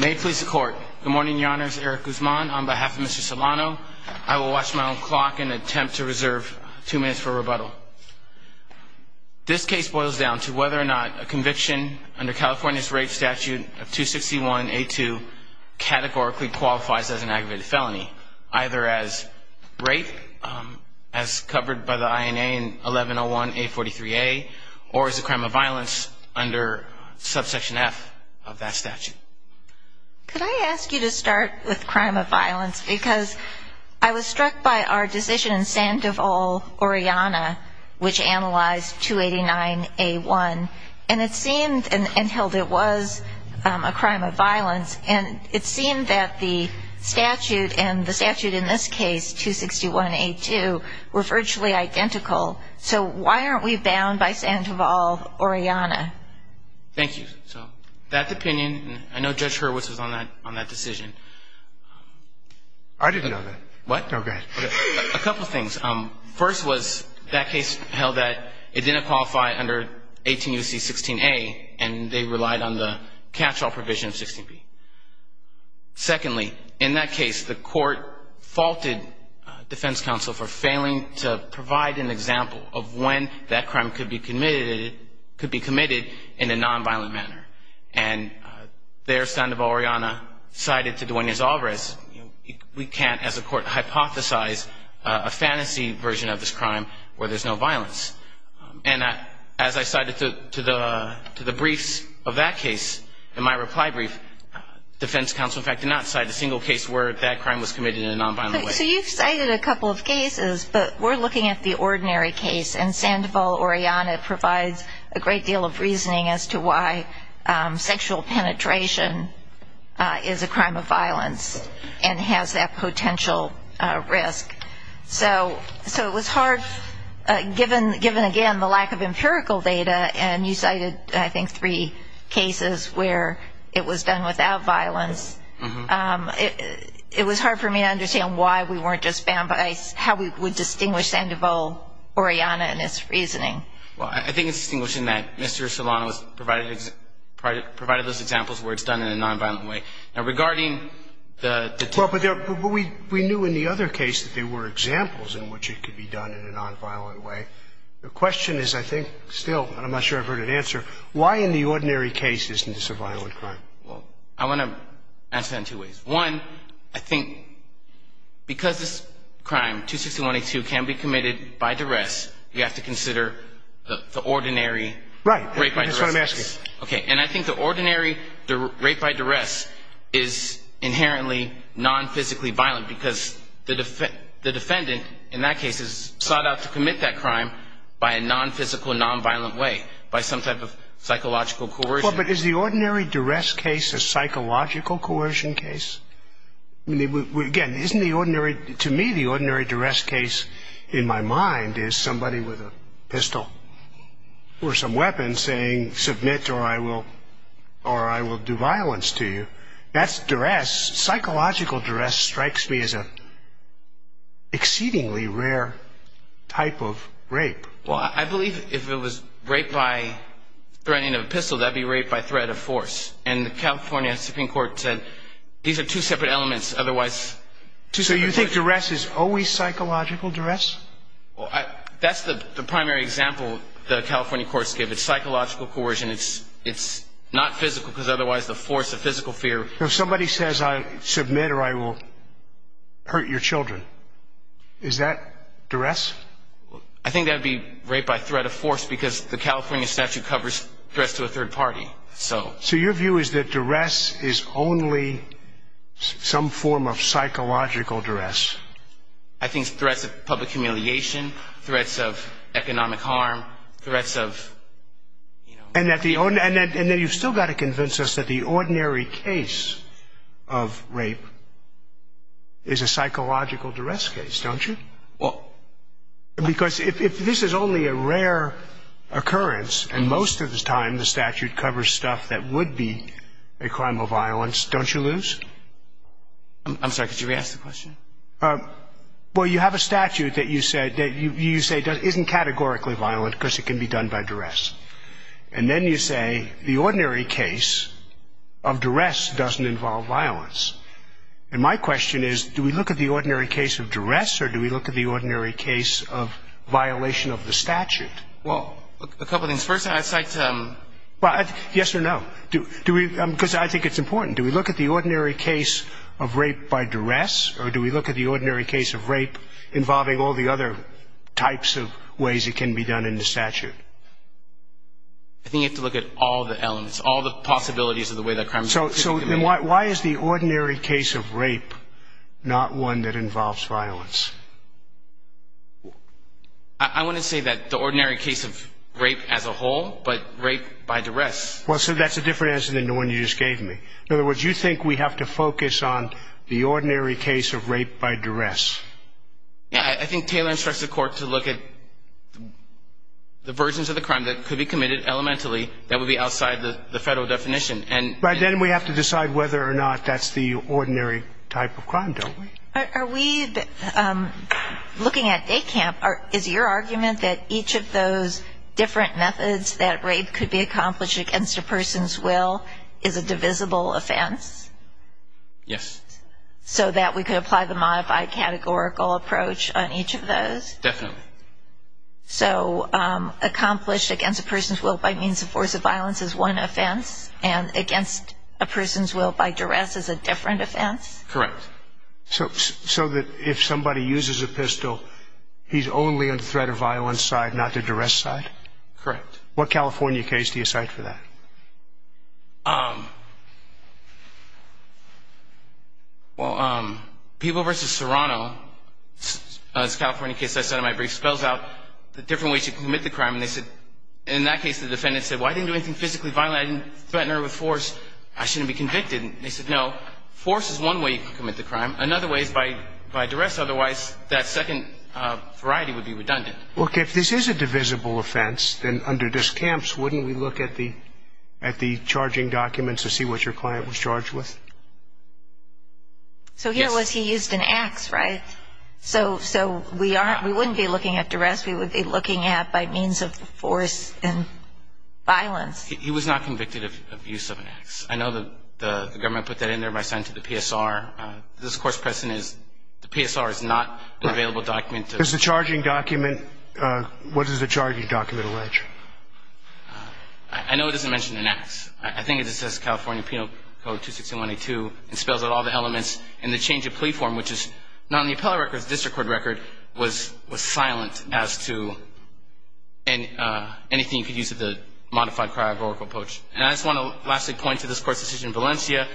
May it please the court. Good morning, Your Honors. Eric Guzman on behalf of Mr. Solano. I will watch my own clock and attempt to reserve two minutes for rebuttal. This case boils down to whether or not a conviction under California's rape statute of 261A2 categorically qualifies as an aggravated felony, either as rape, as covered by the INA in 1101A43A, or as a crime of violence under subsection F of that statute. Could I ask you to start with crime of violence? Because I was struck by our decision in Sandoval, Oriana, which analyzed 289A1. And it seemed and held it was a crime of violence. And it seemed that the statute and the statute in this case, 261A2, were virtually identical. So why aren't we bound by Sandoval, Oriana? Thank you. So that opinion, and I know Judge Hurwitz was on that decision. I didn't know that. What? No, go ahead. A couple of things. First was that case held that it didn't qualify under 18UC16A, and they relied on the catch-all provision of 16B. Secondly, in that case, the court faulted defense counsel for failing to provide an example of when that crime could be committed in a nonviolent manner. And there, Sandoval, Oriana, cited to Duenas-Alvarez, we can't, as a court, hypothesize a fantasy version of this crime where there's no violence. And as I cited to the briefs of that case, in my reply brief, defense counsel, in fact, did not cite a single case where that crime was committed in a nonviolent way. So you've cited a couple of cases, but we're looking at the ordinary case. And Sandoval, Oriana, provides a great deal of reasoning as to why sexual penetration is a crime of violence and has that potential risk. So it was hard, given, again, the lack of empirical data, and you cited, I think, three cases where it was done without violence. It was hard for me to understand why we weren't just bound by how we would distinguish Sandoval, Oriana, and its reasoning. Well, I think it's distinguishing that Mr. Esolano provided those examples where it's done in a nonviolent way. Well, but we knew in the other case that there were examples in which it could be done in a nonviolent way. The question is, I think, still, and I'm not sure I've heard an answer, why in the ordinary case isn't this a violent crime? Well, I want to answer that in two ways. One, I think because this crime, 261A2, can be committed by duress, you have to consider the ordinary rape by duress case. Right, that's what I'm asking. Okay, and I think the ordinary rape by duress is inherently nonphysically violent because the defendant, in that case, is sought out to commit that crime by a nonphysical, nonviolent way, by some type of psychological coercion. Well, but is the ordinary duress case a psychological coercion case? I mean, again, isn't the ordinary, to me, the ordinary duress case, in my mind, is somebody with a pistol or some weapon saying, submit or I will do violence to you. That's duress. Psychological duress strikes me as an exceedingly rare type of rape. Well, I believe if it was rape by threatening of a pistol, that would be rape by threat of force. And the California Supreme Court said these are two separate elements. So you think duress is always psychological duress? Well, that's the primary example the California courts give. It's psychological coercion. It's not physical because otherwise the force of physical fear. If somebody says, submit or I will hurt your children, is that duress? I think that would be rape by threat of force because the California statute covers duress to a third party. So your view is that duress is only some form of psychological duress? I think it's threats of public humiliation, threats of economic harm, threats of, you know. And then you've still got to convince us that the ordinary case of rape is a psychological duress case, don't you? Well. Because if this is only a rare occurrence and most of the time the statute covers stuff that would be a crime of violence, don't you lose? I'm sorry, could you re-ask the question? Well, you have a statute that you say isn't categorically violent because it can be done by duress. And then you say the ordinary case of duress doesn't involve violence. And my question is, do we look at the ordinary case of duress or do we look at the ordinary case of violation of the statute? Well, a couple of things. First, I'd like to – Yes or no? Do we – because I think it's important. Do we look at the ordinary case of rape by duress or do we look at the ordinary case of rape involving all the other types of ways it can be done in the statute? I think you have to look at all the elements, all the possibilities of the way that crime is typically committed. So then why is the ordinary case of rape not one that involves violence? I want to say that the ordinary case of rape as a whole, but rape by duress. Well, so that's a different answer than the one you just gave me. In other words, you think we have to focus on the ordinary case of rape by duress. I think Taylor instructs the court to look at the versions of the crime that could be committed elementally that would be outside the federal definition. But then we have to decide whether or not that's the ordinary type of crime, don't we? Are we looking at – is your argument that each of those different methods that rape could be accomplished against a person's will is a divisible offense? Yes. So that we could apply the modified categorical approach on each of those? Definitely. So accomplished against a person's will by means of force of violence is one offense and against a person's will by duress is a different offense? Correct. So that if somebody uses a pistol, he's only in threat of violence side, not the duress side? Correct. What California case do you cite for that? Well, People v. Serrano, a California case I cited in my brief, spells out the different ways you can commit the crime. And they said – in that case, the defendant said, well, I didn't do anything physically violent. I didn't threaten her with force. I shouldn't be convicted. They said, no, force is one way you can commit the crime. Another way is by duress. Otherwise, that second variety would be redundant. Look, if this is a divisible offense, then under discounts, wouldn't we look at the charging documents to see what your client was charged with? So here was he used an ax, right? So we wouldn't be looking at duress. We would be looking at by means of force and violence. He was not convicted of use of an ax. I know the government put that in there by signing to the PSR. The discourse present is the PSR is not an available document. Is the charging document – what does the charging document allege? I know it doesn't mention an ax. I think it just says California Penal Code 26182. It spells out all the elements. And the change of plea form, which is not in the appellate record, but the district court record, was silent as to anything you could use of the modified prior oracle approach. And I just want to lastly point to this court's decision in Valencia.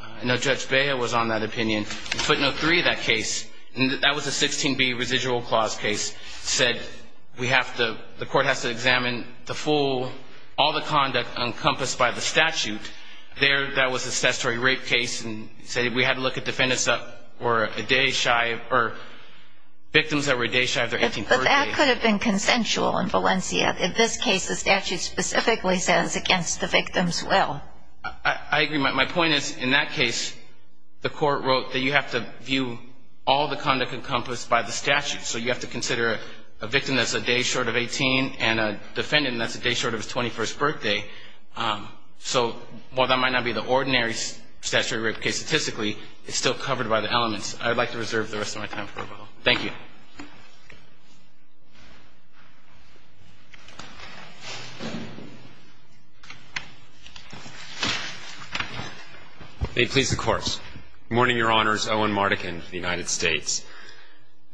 I know Judge Beha was on that opinion. In footnote 3 of that case, and that was a 16B residual clause case, said we have to – the court has to examine the full – all the conduct encompassed by the statute. There, that was a statutory rape case and said we had to look at defendants that were a day shy or victims that were a day shy of their 18th birthday. But that could have been consensual in Valencia. In this case, the statute specifically says against the victim's will. I agree. My point is, in that case, the court wrote that you have to view all the conduct encompassed by the statute. So you have to consider a victim that's a day short of 18 and a defendant that's a day short of his 21st birthday. So while that might not be the ordinary statutory rape case statistically, it's still covered by the elements. I would like to reserve the rest of my time for rebuttal. Thank you. May it please the Court. Good morning, Your Honors. Owen Mardekin of the United States.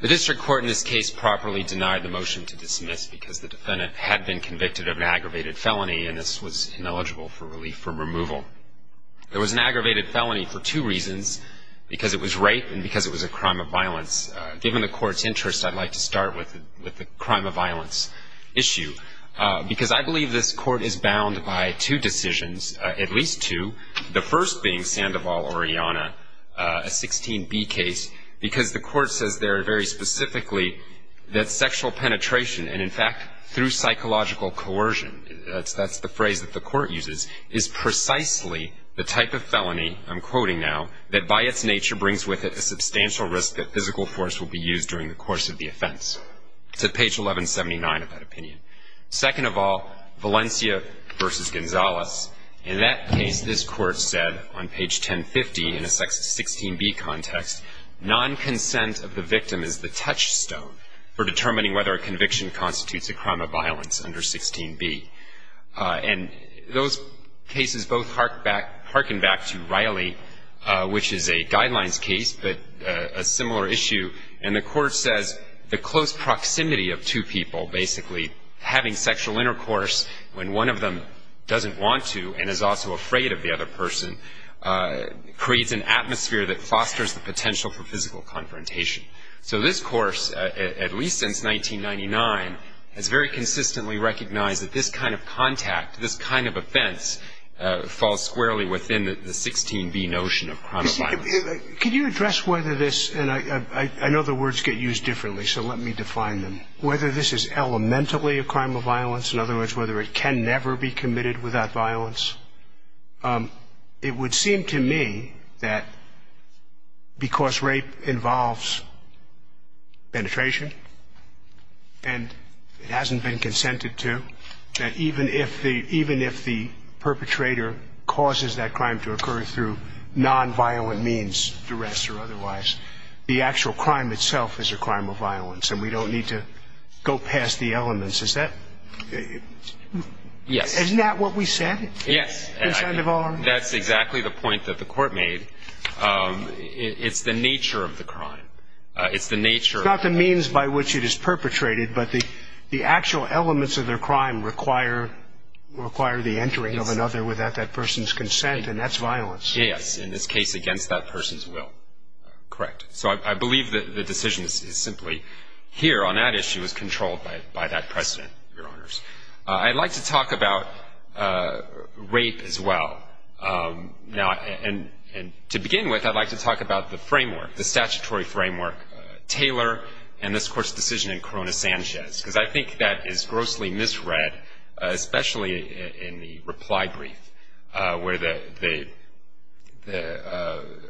The district court in this case properly denied the motion to dismiss because the defendant had been convicted of an aggravated felony, and this was ineligible for relief from removal. There was an aggravated felony for two reasons, because it was rape and because it was a crime of violence. Given the Court's interest, I'd like to start with the crime of violence issue. Because I believe this Court is bound by two decisions, at least two, the first being Sandoval-Oriana, a 16B case, because the Court says there very specifically that sexual penetration, and, in fact, through psychological coercion, that's the phrase that the Court uses, is precisely the type of felony, I'm quoting now, that by its nature brings with it a substantial risk that physical force will be used during the course of the offense. It's at page 1179 of that opinion. Second of all, Valencia v. Gonzalez. In that case, this Court said on page 1050 in a 16B context, nonconsent of the victim is the touchstone for determining whether a conviction constitutes a crime of violence under 16B. And those cases both harken back to Riley, which is a guidelines case, but a similar issue. And the Court says the close proximity of two people basically having sexual intercourse when one of them doesn't want to and is also afraid of the other person creates an atmosphere that fosters the potential for physical confrontation. So this Course, at least since 1999, has very consistently recognized that this kind of contact, this kind of offense, falls squarely within the 16B notion of crime of violence. Could you address whether this, and I know the words get used differently, so let me define them, whether this is elementally a crime of violence, in other words, whether it can never be committed without violence? It would seem to me that because rape involves penetration and it hasn't been consented to, that even if the perpetrator causes that crime to occur through nonviolent means, duress or otherwise, the actual crime itself is a crime of violence and we don't need to go past the elements. Isn't that what we said? Yes. That's exactly the point that the Court made. It's the nature of the crime. It's not the means by which it is perpetrated, but the actual elements of their crime require the entering of another without that person's consent and that's violence. Yes, in this case against that person's will. Correct. So I believe that the decision is simply here on that issue is controlled by that precedent, Your Honors. I'd like to talk about rape as well. Now, and to begin with, I'd like to talk about the framework, the statutory framework, Taylor and this Court's decision in Corona-Sanchez because I think that is grossly misread, especially in the reply brief where the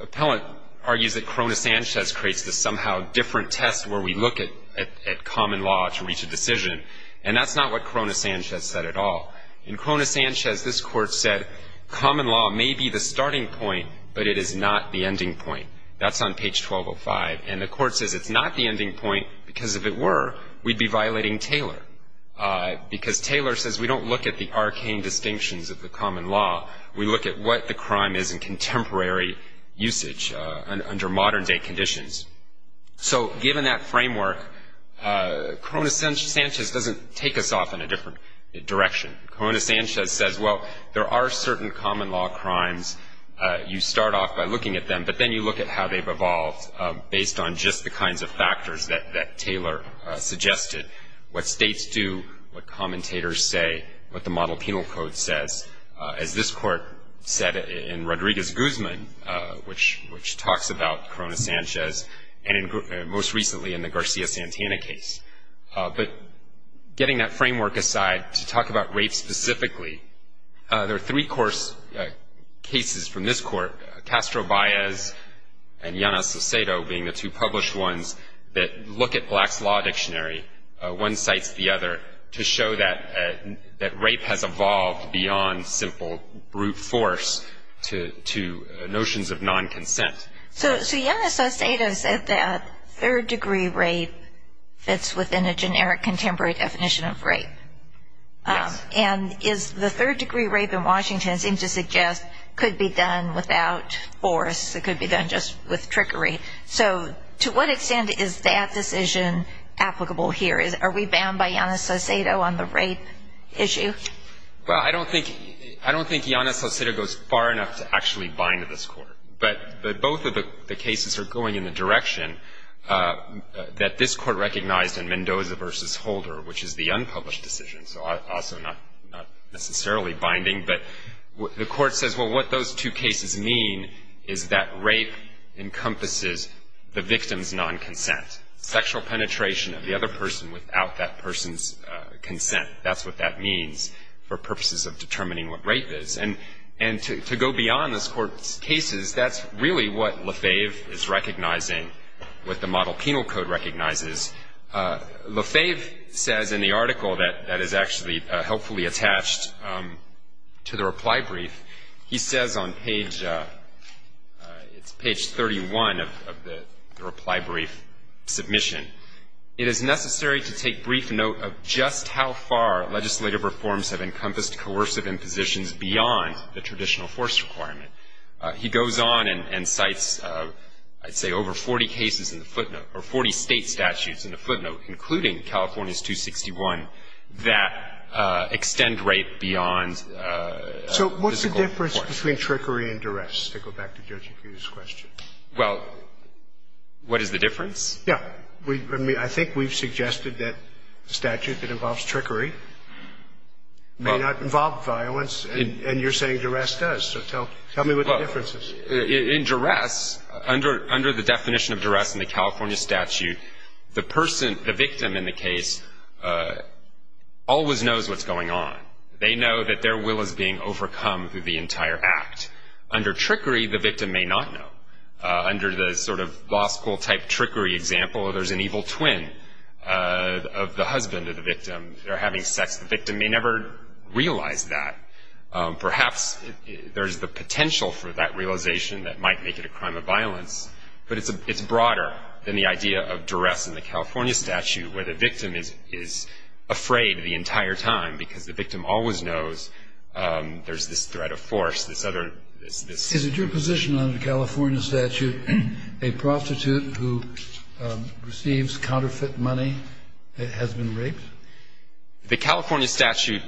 appellant argues that Corona-Sanchez creates this somehow different test where we look at common law to reach a decision and that's not what Corona-Sanchez said at all. In Corona-Sanchez, this Court said common law may be the starting point, but it is not the ending point. That's on page 1205. And the Court says it's not the ending point because if it were, we'd be violating Taylor because Taylor says we don't look at the arcane distinctions of the common law. We look at what the crime is in contemporary usage under modern-day conditions. So given that framework, Corona-Sanchez doesn't take us off in a different direction. Corona-Sanchez says, well, there are certain common law crimes. You start off by looking at them, but then you look at how they've evolved based on just the kinds of factors that Taylor suggested, what states do, what commentators say, what the Model Penal Code says. As this Court said in Rodriguez-Guzman, which talks about Corona-Sanchez, and most recently in the Garcia-Santana case. But getting that framework aside to talk about rape specifically, there are three cases from this Court, Castro-Baez and Llanos-Cecedo being the two published ones, that look at Black's Law Dictionary, one cites the other, to show that rape has evolved beyond simple brute force to notions of non-consent. So Llanos-Cecedo said that third-degree rape fits within a generic contemporary definition of rape. Yes. And is the third-degree rape in Washington seems to suggest could be done without force. It could be done just with trickery. So to what extent is that decision applicable here? Are we bound by Llanos-Cecedo on the rape issue? Well, I don't think Llanos-Cecedo goes far enough to actually bind this Court. But both of the cases are going in the direction that this Court recognized in Mendoza v. Holder, which is the unpublished decision, so also not necessarily binding. But the Court says, well, what those two cases mean is that rape encompasses the victim's non-consent, sexual penetration of the other person without that person's consent. That's what that means for purposes of determining what rape is. And to go beyond this Court's cases, that's really what Lefebvre is recognizing, what the Model Penal Code recognizes. Lefebvre says in the article that is actually helpfully attached to the reply brief, he says on page 31 of the reply brief submission, it is necessary to take brief note of just how far legislative reforms have encompassed coercive impositions beyond the traditional force requirement. He goes on and cites, I'd say, over 40 cases in the footnote, or 40 State statutes in the footnote, including California's 261, that extend rape beyond physical force. So what's the difference between trickery and duress, to go back to Judge O'Keefe's question? Well, what is the difference? Yeah. I mean, I think we've suggested that a statute that involves trickery may not involve violence. And you're saying duress does. So tell me what the difference is. In duress, under the definition of duress in the California statute, the person, the victim in the case, always knows what's going on. They know that their will is being overcome through the entire act. Under trickery, the victim may not know. Under the sort of law school-type trickery example, there's an evil twin of the husband of the victim. They're having sex. The victim may never realize that. Perhaps there's the potential for that realization that might make it a crime of violence, but it's broader than the idea of duress in the California statute, where the victim is afraid the entire time because the victim always knows there's this threat of force, this other ‑‑ Is it your position under the California statute a prostitute who receives counterfeit money has been raped? The California statute,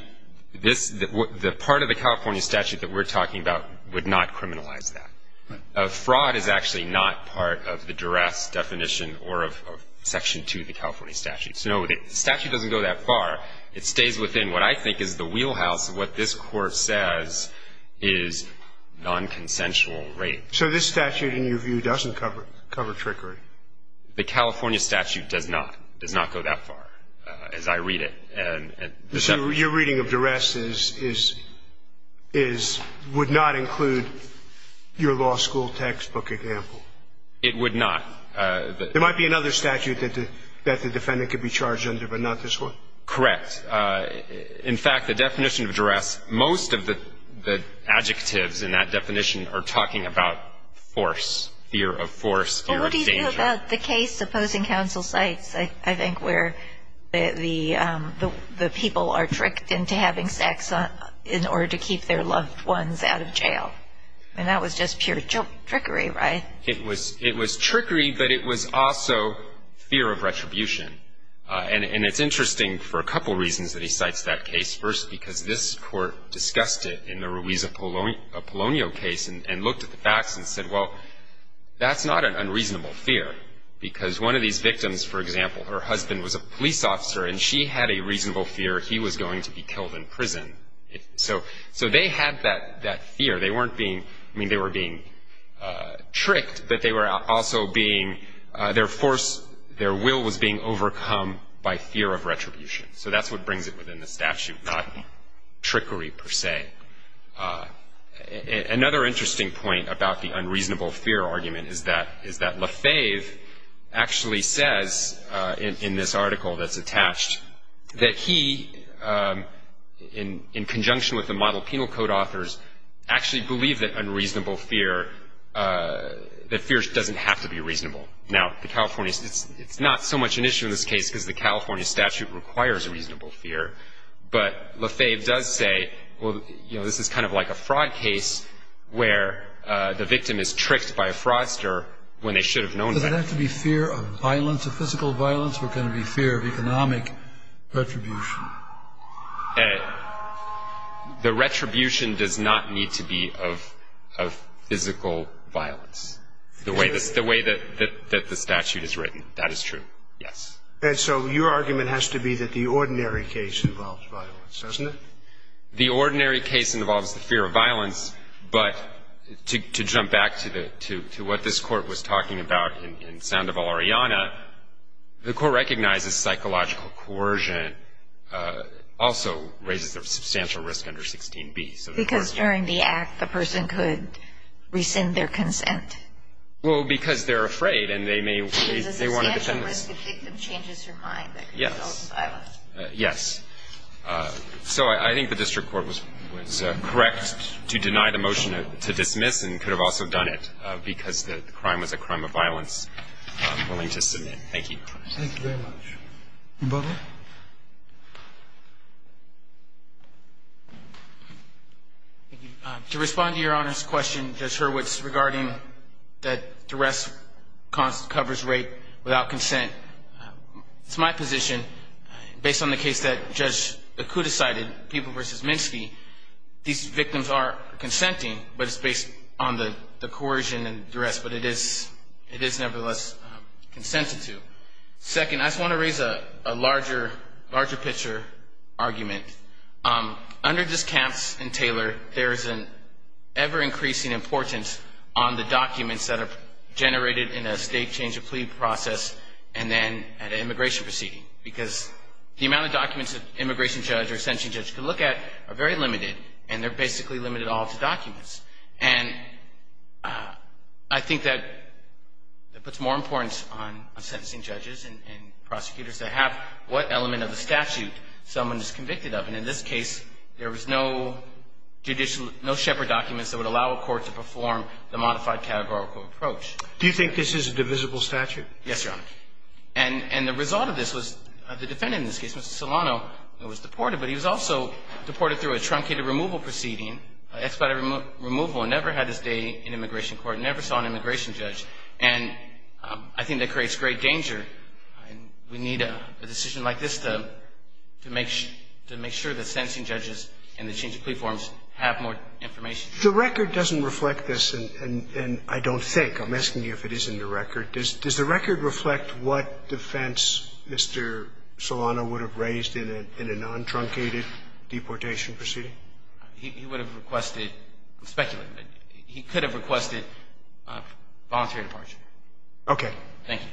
this ‑‑ the part of the California statute that we're talking about would not criminalize that. Fraud is actually not part of the duress definition or of section 2 of the California statute. So no, the statute doesn't go that far. It stays within what I think is the wheelhouse of what this Court says is nonconsensual rape. So this statute, in your view, doesn't cover trickery? The California statute does not. It does not go that far as I read it. Your reading of duress would not include your law school textbook example? It would not. There might be another statute that the defendant could be charged under, but not this one? Correct. In fact, the definition of duress, most of the adjectives in that definition are talking about force, fear of force, fear of danger. What about the case opposing counsel cites, I think, where the people are tricked into having sex in order to keep their loved ones out of jail? I mean, that was just pure trickery, right? It was trickery, but it was also fear of retribution. And it's interesting for a couple reasons that he cites that case. First, because this Court discussed it in the Ruiz-Apollonio case and looked at the facts and said, well, that's not an unreasonable fear. Because one of these victims, for example, her husband was a police officer, and she had a reasonable fear he was going to be killed in prison. So they had that fear. They weren't being – I mean, they were being tricked, but they were also being – their force, their will was being overcome by fear of retribution. So that's what brings it within the statute, not trickery per se. Another interesting point about the unreasonable fear argument is that Lefebvre actually says in this article that's attached that he, in conjunction with the model penal code authors, actually believed that unreasonable fear – that fear doesn't have to be reasonable. Now, the California – it's not so much an issue in this case because the California statute requires reasonable fear. But Lefebvre does say, well, you know, this is kind of like a fraud case where the victim is tricked by a fraudster when they should have known that. Does it have to be fear of violence, of physical violence, or can it be fear of economic retribution? The retribution does not need to be of physical violence, the way that the statute is written. That is true, yes. And so your argument has to be that the ordinary case involves violence, doesn't it? The ordinary case involves the fear of violence. But to jump back to the – to what this Court was talking about in Sandoval-Ariana, the Court recognizes psychological coercion also raises a substantial risk under 16b. Because during the act, the person could rescind their consent. Well, because they're afraid and they may – they want to defend themselves. Because a substantial risk if the victim changes her mind that could result in violence. Yes. So I think the district court was correct to deny the motion to dismiss and could have also done it because the crime was a crime of violence. I'm willing to submit. Thank you. Thank you very much. Bubba. Thank you. To respond to Your Honor's question, Judge Hurwitz, regarding that duress covers rape without consent, it's my position, based on the case that Judge Akuda cited, People v. Minsky, these victims are consenting, but it's based on the coercion and duress. But it is nevertheless consensitive. Second, I just want to raise a larger picture argument. Under this Camps and Taylor, there is an ever-increasing importance on the documents that are generated in a state change of plea process and then at an immigration proceeding. Because the amount of documents that an immigration judge or a sentencing judge can look at are very limited. And they're basically limited all to documents. And I think that it puts more importance on sentencing judges and prosecutors to have what element of the statute someone is convicted of. And in this case, there was no judicial – the modified categorical approach. Do you think this is a divisible statute? Yes, Your Honor. And the result of this was the defendant in this case, Mr. Solano, was deported. But he was also deported through a truncated removal proceeding, expedited removal and never had his day in immigration court, never saw an immigration judge. And I think that creates great danger. We need a decision like this to make sure that sentencing judges and the change of plea forms have more information. The record doesn't reflect this, and I don't think. I'm asking you if it is in the record. Does the record reflect what defense Mr. Solano would have raised in a non-truncated deportation proceeding? He would have requested – I'm speculating. Okay. Thank you. Thank you.